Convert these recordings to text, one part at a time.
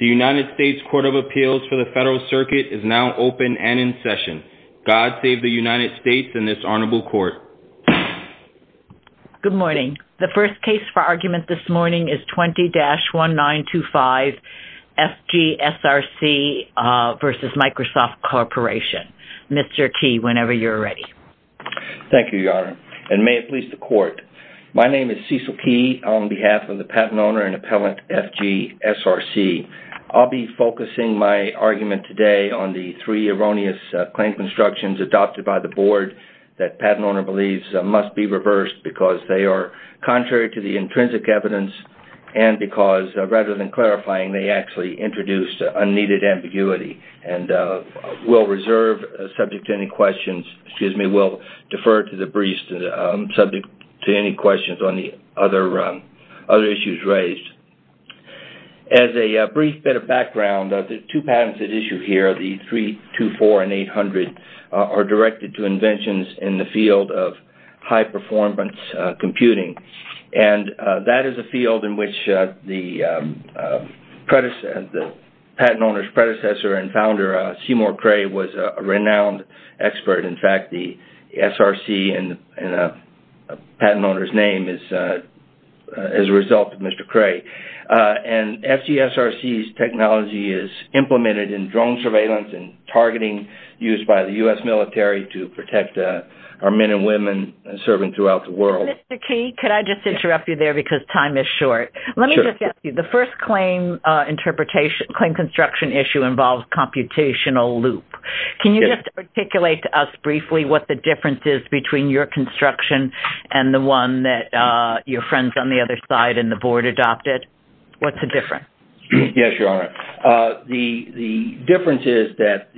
The United States Court of Appeals for the Federal Circuit is now open and in session. God save the United States and this honorable court. Good morning. The first case for argument this morning is 20-1925 FG SRC v. Microsoft Corporation. Mr. Key, whenever you're ready. Thank you, Your Honor, and may it please the court. My name is Cecil Key on behalf of the patent owner and appellant FG SRC. I'll be focusing my argument today on the three erroneous claim constructions adopted by the board that the patent owner believes must be reversed because they are contrary to the intrinsic evidence and because rather than clarifying, they actually introduced unneeded ambiguity. We'll defer to the briefs subject to any questions on the other issues raised. As a brief bit of background, the two patents at issue here, the 324 and 800, are directed to inventions in the field of high-performance computing. That is a field in which the patent owner's predecessor and founder, Seymour Cray, was a renowned expert. In fact, the SRC and the patent owner's name is a result of Mr. Cray. FG SRC's technology is implemented in drone surveillance and targeting used by the U.S. military to protect our men and women serving throughout the world. Mr. Key, could I just interrupt you there because time is short? Let me just ask you. The first claim construction issue involves computational loop. Can you just articulate to us briefly what the difference is between your construction and the one that your friends on the other side and the board adopted? What's the difference? Yes, Your Honor. The difference is that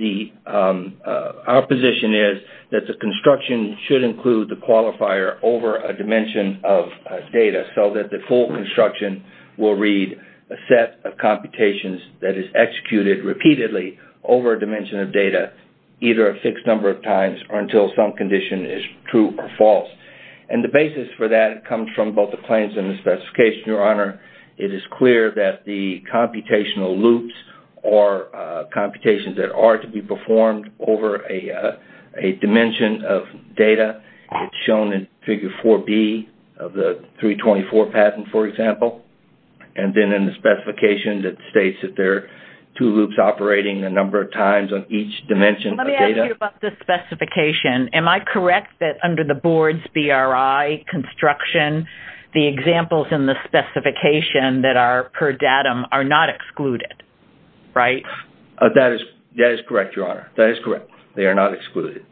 our position is that the construction should include the qualifier over a dimension of data so that the full construction will read a set of computations that is executed repeatedly over a dimension of data either a fixed number of times or until some condition is true or false. The basis for that comes from both the claims and the specification, Your Honor. It is clear that the computational loops are computations that are to be performed over a dimension of data. It's shown in Figure 4B of the 324 patent, for example, and then in the specification that states that there are two loops operating a number of times on each dimension of data. Let me ask you about the specification. Am I correct that under the board's BRI construction, the examples in the specification that are per datum are not excluded, right? That is correct, Your Honor. That is correct. They are not excluded.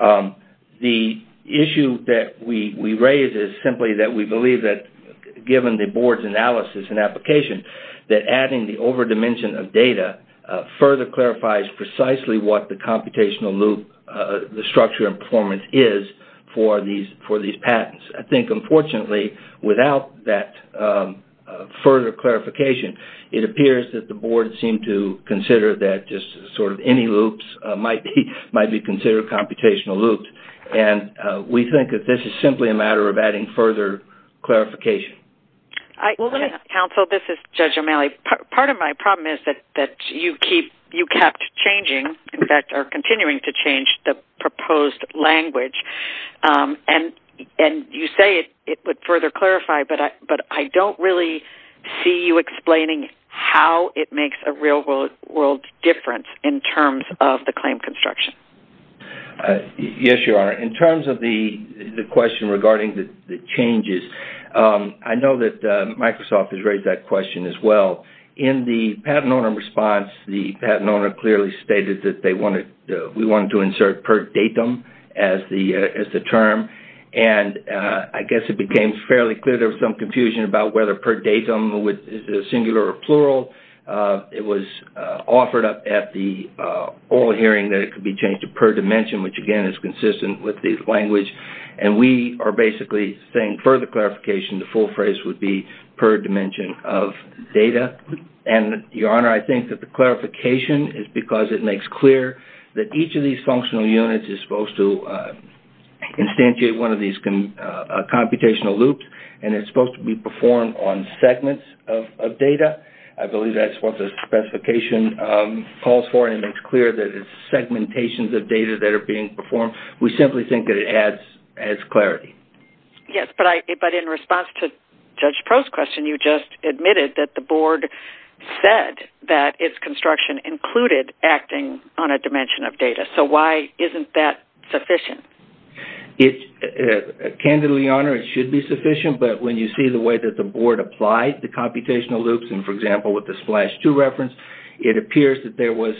The issue that we raise is simply that we believe that given the board's analysis and application that adding the over dimension of data further clarifies precisely what the computational loop structure and performance is for these patents. Unfortunately, without that further clarification, it appears that the board seemed to consider that any loops might be considered computational loops. We think that this is simply a matter of adding further clarification. Counsel, this is Judge O'Malley. Part of my problem is that you kept changing, in fact, are continuing to change, the proposed language. You say it would further clarify, but I don't really see you explaining how it makes a real-world difference in terms of the claim construction. Yes, Your Honor. In terms of the question regarding the changes, I know that Microsoft has raised that question as well. In the patent owner response, the patent owner clearly stated that we wanted to insert per datum as the term. I guess it became fairly clear there was some confusion about whether per datum is singular or plural. It was offered up at the oral hearing that it could be changed to per dimension, which again is consistent with the language. We are basically saying further clarification, the full phrase would be per dimension of data. Your Honor, I think that the clarification is because it makes clear that each of these functional units is supposed to instantiate one of these computational loops, and it's supposed to be performed on segments of data. I believe that's what the specification calls for, and it makes clear that it's segmentations of data that are being performed. We simply think that it adds clarity. Yes, but in response to Judge Pro's question, you just admitted that the board said that its construction included acting on a dimension of data. Why isn't that sufficient? Candidly, Your Honor, it should be sufficient, but when you see the way that the board applied the computational loops, for example, with the Splash 2 reference, it appears that there was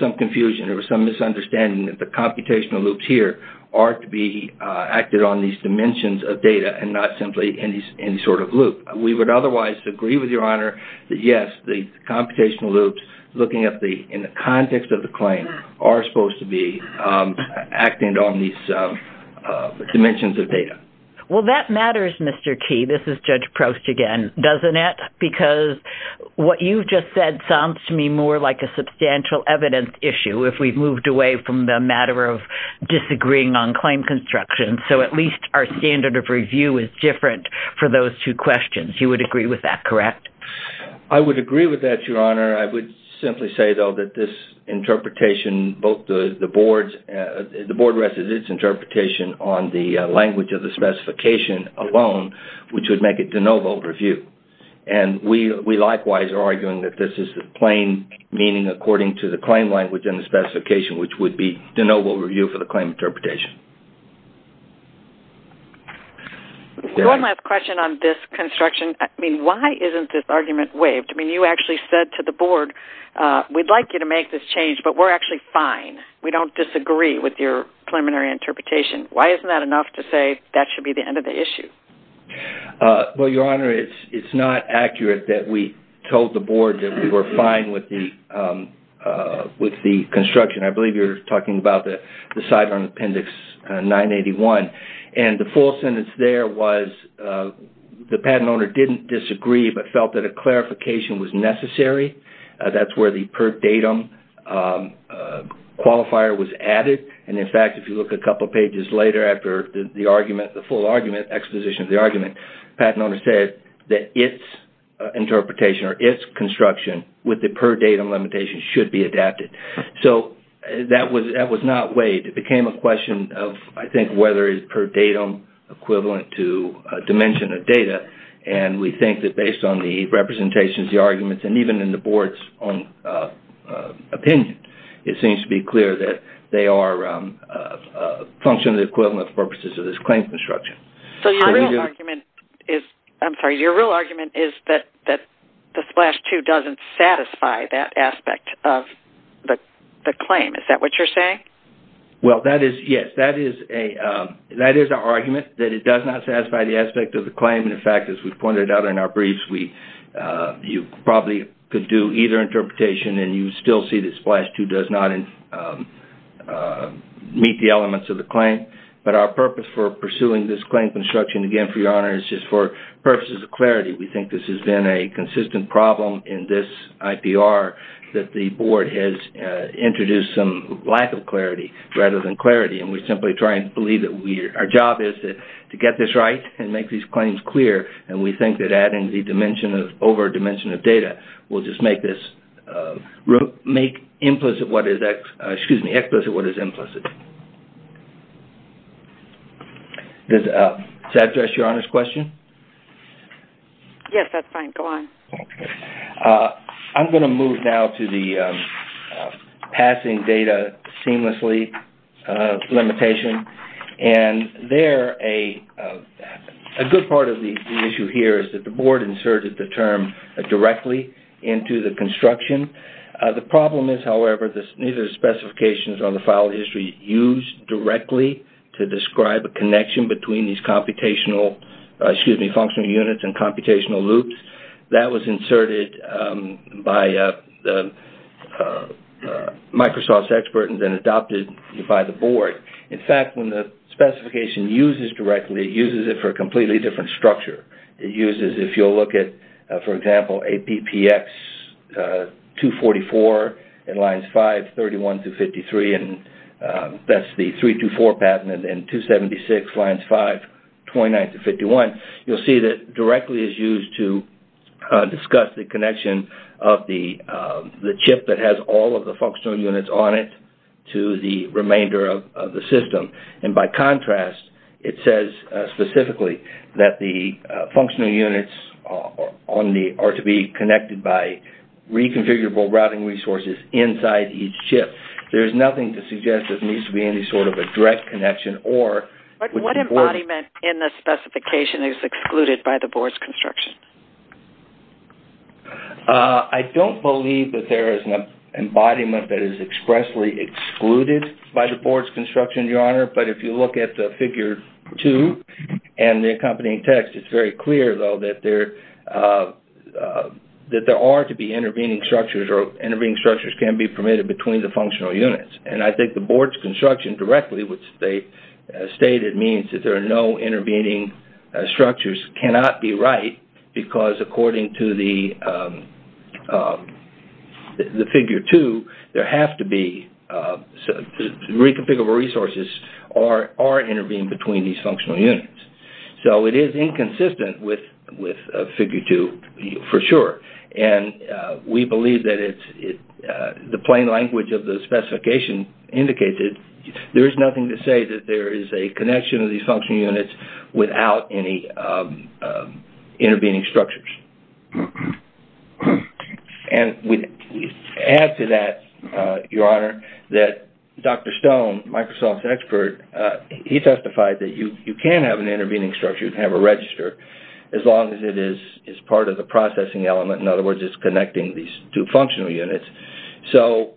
some confusion. There was some misunderstanding that the computational loops here are to be acted on these dimensions of data and not simply any sort of loop. We would otherwise agree with Your Honor that yes, the computational loops, looking at the context of the claim, are supposed to be acting on these dimensions of data. Well, that matters, Mr. Key. This is Judge Prost again, doesn't it? Because what you just said sounds to me more like a substantial evidence issue if we've moved away from the matter of disagreeing on claim construction. So at least our standard of review is different for those two questions. You would agree with that, correct? I would agree with that, Your Honor. I would simply say, though, that this interpretation, both the board's – the board rested its interpretation on the language of the specification alone, which would make it de novo review. And we likewise are arguing that this is the plain meaning according to the claim language and the specification, which would be de novo review for the claim interpretation. One last question on this construction. I mean, why isn't this argument waived? I mean, you actually said to the board, we'd like you to make this change, but we're actually fine. We don't disagree with your preliminary interpretation. Why isn't that enough to say that should be the end of the issue? Well, Your Honor, it's not accurate that we told the board that we were fine with the construction. I believe you're talking about the sideline appendix 981. And the full sentence there was the patent owner didn't disagree but felt that a clarification was necessary. That's where the per datum qualifier was added. And in fact, if you look a couple of pages later after the argument, the full argument, exposition of the argument, the patent owner said that its interpretation or its construction with the per datum limitation should be adapted. So that was not waived. It became a question of, I think, whether it's per datum equivalent to a dimension of data. And we think that based on the representations, the arguments, and even in the board's own function of the equivalent purposes of this claim construction. So your real argument is that the SPLASH II doesn't satisfy that aspect of the claim. Is that what you're saying? Well, yes. That is our argument, that it does not satisfy the aspect of the claim. In fact, as we pointed out in our briefs, you probably could do either interpretation and you still see that SPLASH II does not meet the elements of the claim. But our purpose for pursuing this claim construction, again, for your honor, is just for purposes of clarity. We think this has been a consistent problem in this IPR that the board has introduced some lack of clarity rather than clarity. And we simply try and believe that our job is to get this right and make these claims clear. And we think that adding the dimension of over dimension of data will just make implicit what is implicit. Does that address your honor's question? Yes. That's fine. Go on. I'm going to move now to the passing data seamlessly limitation. And there, a good part of the issue here is that the board inserted the term directly into the construction. The problem is, however, neither of the specifications on the file history used directly to describe a connection between these computational, excuse me, functional units and computational loops. That was inserted by the Microsoft's expert and then adopted by the board. In fact, when the specification uses directly, it uses it for a completely different structure. It uses, if you'll look at, for example, APPX 244 and lines 5, 31 to 53, and that's the 324 patent and 276 lines 5, 29 to 51. You'll see that directly is used to discuss the connection of the chip that has all of the functional units on it to the remainder of the system. And by contrast, it says specifically that the functional units are to be connected by reconfigurable routing resources inside each chip. There's nothing to suggest there needs to be any sort of a direct connection or... What embodiment in the specification is excluded by the board's construction? I don't believe that there is an embodiment that is expressly excluded by the board's construction, Your Honor, but if you look at the figure 2 and the accompanying text, it's very clear, though, that there are to be intervening structures or intervening structures can be permitted between the functional units. And I think the board's construction directly, which they stated, means that there are no because according to the figure 2, reconfigurable resources are intervening between these functional units. So it is inconsistent with figure 2 for sure. And we believe that the plain language of the specification indicates it. There is nothing to say that there is a connection of these functional units without any intervening structures. And we add to that, Your Honor, that Dr. Stone, Microsoft's expert, he testified that you can have an intervening structure, you can have a register, as long as it is part of the processing element. In other words, it's connecting these two functional units. So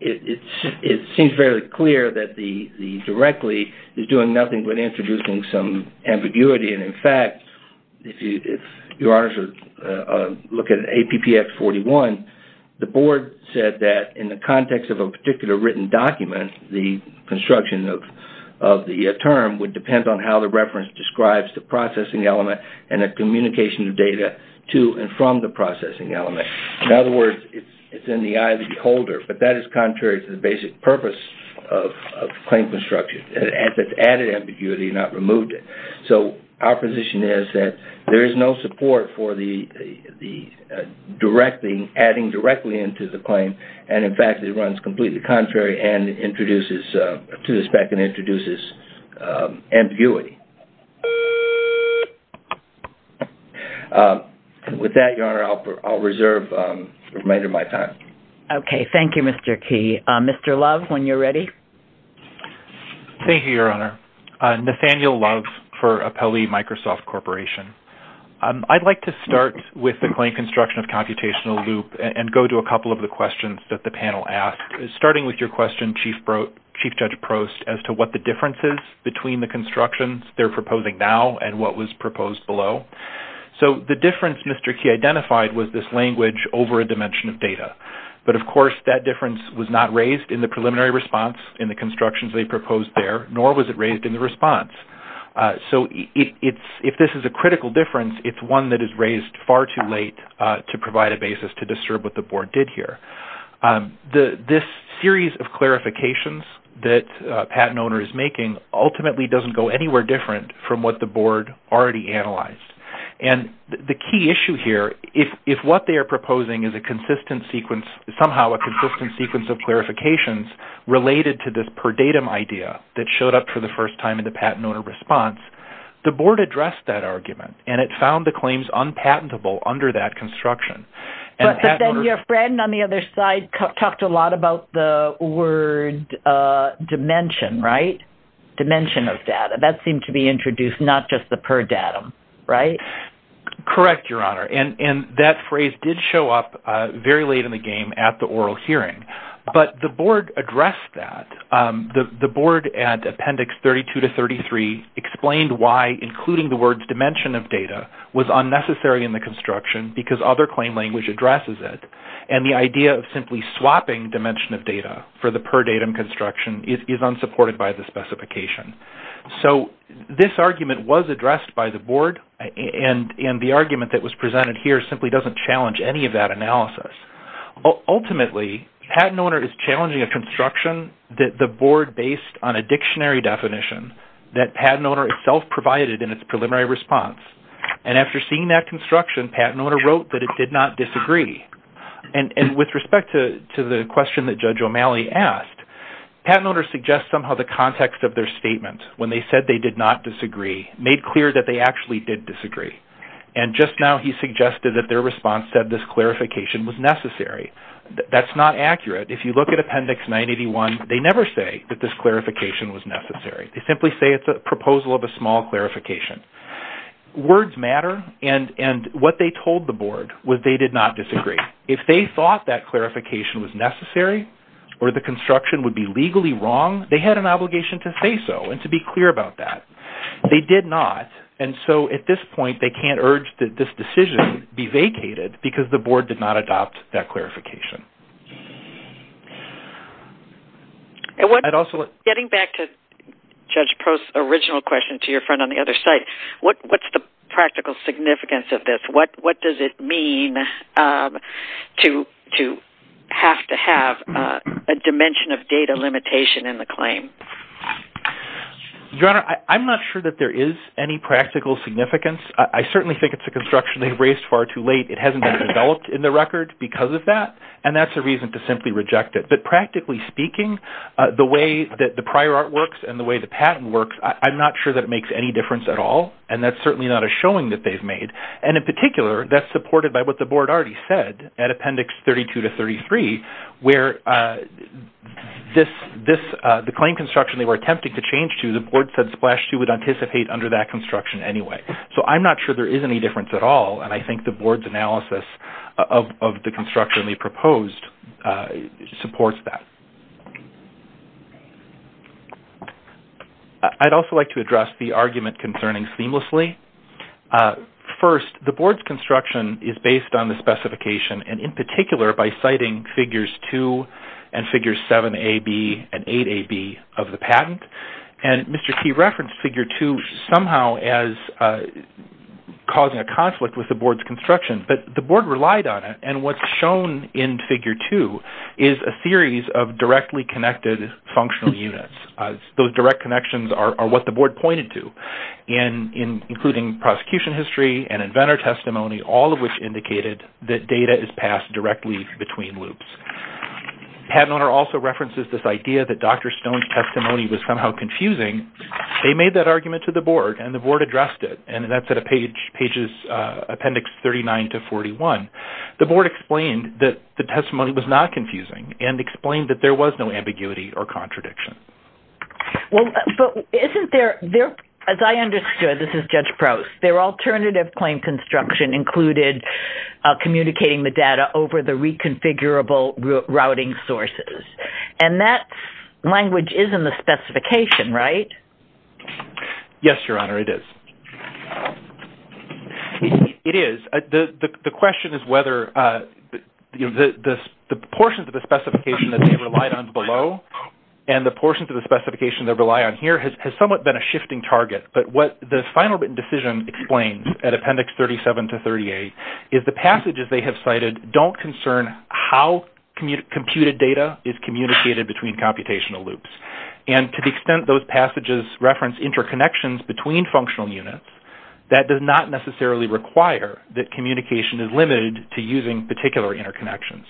it seems fairly clear that the directly is doing nothing but introducing some ambiguity. And in fact, if Your Honors look at APPF41, the board said that in the context of a particular written document, the construction of the term would depend on how the reference describes the processing element and the communication of data to and from the processing element. In other words, it's in the eye of the beholder. But that is contrary to the basic purpose of claim construction. It's added ambiguity, not removed it. So our position is that there is no support for adding directly into the claim. And in fact, it runs completely contrary to the spec and introduces ambiguity. With that, Your Honor, I'll reserve the remainder of my time. Okay. Thank you, Mr. Key. Mr. Love, when you're ready. Thank you, Your Honor. Nathaniel Love for Appellee Microsoft Corporation. I'd like to start with the claim construction of computational loop and go to a couple of the questions that the panel asked. Starting with your question, Chief Judge Prost, as to what the difference is between the constructions they're proposing now and what was proposed below. So the difference Mr. Key identified was this language over a dimension of data. But of course, that difference was not raised in the preliminary response in the constructions they proposed there, nor was it raised in the response. So if this is a critical difference, it's one that is raised far too late to provide a basis to disturb what the Board did here. This series of clarifications that a patent owner is making ultimately doesn't go anywhere different from what the Board already analyzed. And the key issue here, if what they are proposing is a consistent sequence, somehow a consistent sequence of clarifications related to this per datum idea that showed up for the first time in the patent owner response, the Board addressed that argument and it found the claims unpatentable under that construction. But then your friend on the other side talked a lot about the word dimension, right? Dimension of data. That seemed to be introduced not just the per datum, right? Correct, Your Honor. And that phrase did show up very late in the game at the oral hearing. But the Board addressed that. The Board at Appendix 32 to 33 explained why including the words dimension of data was unnecessary in the construction because other claim language addresses it. And the idea of simply swapping dimension of data for the per datum construction is unsupported by the specification. So this argument was addressed by the Board and the argument that was presented here simply doesn't challenge any of that analysis. Ultimately, patent owner is challenging a construction that the Board based on a dictionary definition that patent owner itself provided in its preliminary response. And after seeing that construction, patent owner wrote that it did not disagree. And with respect to the question that Judge O'Malley asked, patent owner suggests somehow the context of their statement when they said they did not disagree made clear that they actually did disagree. And just now he suggested that their response said this clarification was necessary. That's not accurate. If you look at Appendix 981, they never say that this clarification was necessary. They simply say it's a proposal of a small clarification. Words matter. And what they told the Board was they did not disagree. If they thought that clarification was necessary or the construction would be legally wrong, they had an obligation to say so and to be clear about that. They did not. And so at this point, they can't urge that this decision be vacated because the Board did not adopt that clarification. And getting back to Judge Post's original question to your friend on the other side, what's the practical significance of this? What does it mean to have to have a dimension of data limitation in the claim? Your Honor, I'm not sure that there is any practical significance. I certainly think it's a construction they raised far too late. It hasn't been developed in the record because of that. And that's a reason to simply reject it. But practically speaking, the way that the prior art works and the way the patent works, I'm not sure that it makes any difference at all. And that's certainly not a showing that they've made. And in particular, that's supported by what the Board already said at Appendix 32 to 33, where the claim construction they were attempting to change to, the Board said Splash 2 would anticipate under that construction anyway. So I'm not sure there is any difference at all. And I think the Board's analysis of the construction they proposed supports that. I'd also like to address the argument concerning Seamlessly. First, the Board's construction is based on the specification, and in particular by citing Figures 2 and Figures 7AB and 8AB of the patent. And Mr. Key referenced Figure 2 somehow as causing a conflict with the Board's construction. But the Board relied on it. And what's shown in Figure 2 is a series of directly connected functional units. Those direct connections are what the Board pointed to, including prosecution history and inventor testimony, all of which indicated that data is passed directly between loops. Patent owner also references this idea that Dr. Stone's testimony was somehow confusing. They made that argument to the Board, and the Board addressed it. And that's at pages Appendix 39 to 41. The Board explained that the testimony was not confusing and explained that there was no ambiguity or contradiction. As I understood, this is Judge Prowse, their alternative claim construction included communicating the data over the reconfigurable routing sources. And that language is in the specification, right? Yes, Your Honor, it is. It is. The question is whether the portions of the specification that they relied on below and the portions of the specification they rely on here has somewhat been a shifting target. But what the final written decision explains at Appendix 37 to 38 is the passages they have cited don't concern how computed data is communicated between computational loops. And to the extent those passages reference interconnections between functional units, that does not necessarily require that communication is limited to using particular interconnections.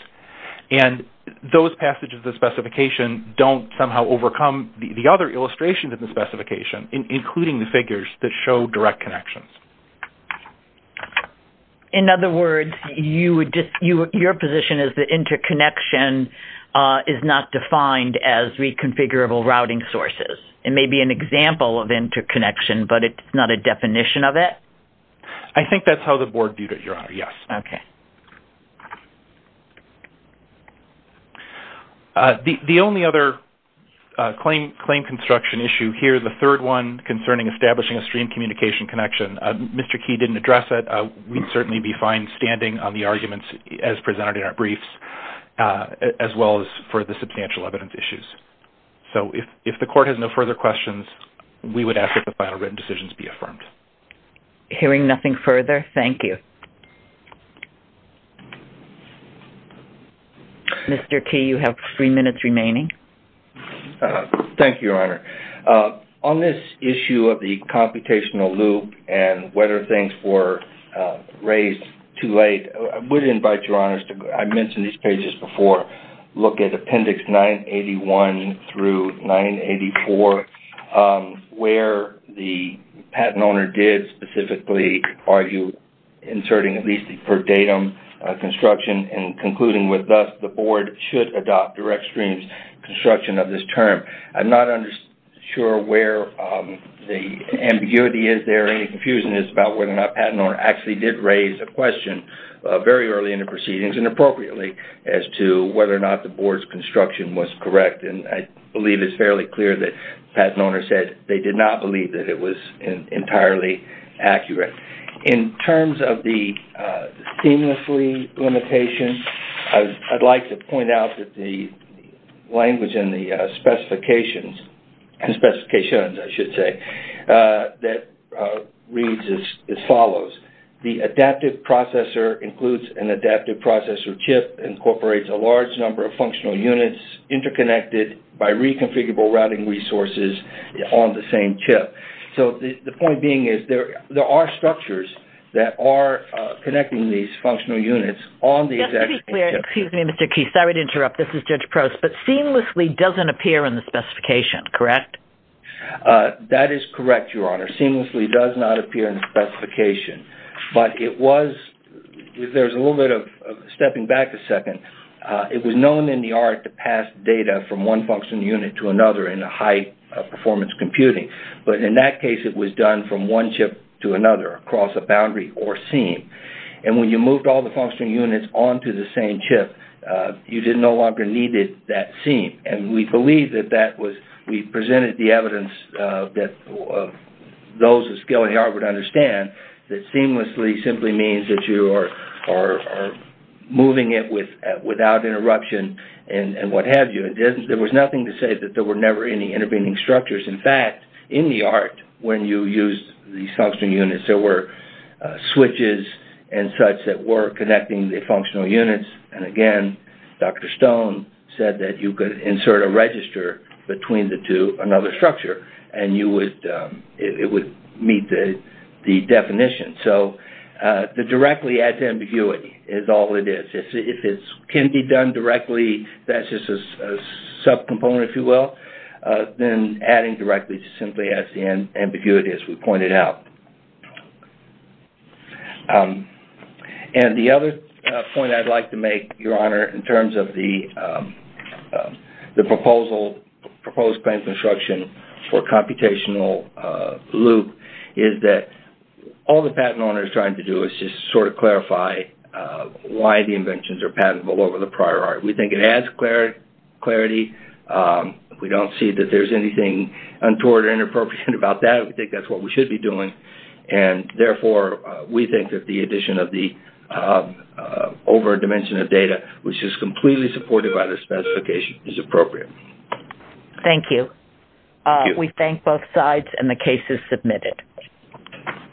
And those passages of the specification don't somehow overcome the other illustrations in the specification, including the figures that show direct connections. In other words, your position is that interconnection is not defined as reconfigurable routing sources. It may be an example of interconnection, but it's not a definition of it? I think that's how the Board viewed it, Your Honor, yes. Okay. The only other claim construction issue here, the third one concerning establishing a stream communication connection. Mr. Key didn't address it. We'd certainly be fine standing on the arguments as presented in our briefs, as well as for the substantial evidence issues. So if the Court has no further questions, we would ask that the final written decisions be affirmed. Hearing nothing further, thank you. Thank you, Your Honor. On this issue of the computational loop and whether things were raised too late, I would invite Your Honors to, I mentioned these pages before, look at Appendix 981 through 984, where the patent owner did specifically argue inserting at least the per datum construction and concluding with, thus, the Board should adopt direct streams construction of this term. I'm not sure where the ambiguity is there, and the confusion is about whether or not the patent owner actually did raise a question very early in the proceedings and appropriately as to whether or not the Board's construction was correct. And I believe it's fairly clear that the patent owner said they did not believe that it was entirely accurate. In terms of the seamlessly limitation, I'd like to point out that the language in the specifications that reads as follows. The adaptive processor includes an adaptive processor chip, incorporates a large number of functional units, interconnected by reconfigurable routing resources on the same chip. So the point being is there are structures that are connecting these functional units on the exact same chip. Excuse me, Mr. Keith. Sorry to interrupt. This is Judge Prost. But seamlessly doesn't appear in the specification, correct? That is correct, Your Honor. Seamlessly does not appear in the specification. There's a little bit of stepping back a second. It was known in the art to pass data from one functional unit to another in high-performance computing. But in that case, it was done from one chip to another across a boundary or seam. And when you moved all the functional units onto the same chip, you no longer needed that seam. And we believe that we presented the evidence that those of skill in the art would understand that seamlessly simply means that you are moving it without interruption and what have you. There was nothing to say that there were never any intervening structures. In fact, in the art, when you used these functional units, there were switches and such that were connecting the functional units. And again, Dr. Stone said that you could insert a register between the two, another structure, and it would meet the definition. So the directly add to ambiguity is all it is. If it can be done directly, that's just a subcomponent, if you will. Then adding directly simply adds to the ambiguity, as we pointed out. And the other point I'd like to make, Your Honor, in terms of the proposed plan construction for computational loop is that all the patent owner is trying to do is just sort of clarify why the inventions are patentable over the prior art. We think it adds clarity. We don't see that there's anything untoward or inappropriate about that. We think that's what we should be doing. And therefore, we think that the addition of the over dimension of data, which is completely supported by the specification, is appropriate. Thank you. We thank both sides, and the case is submitted.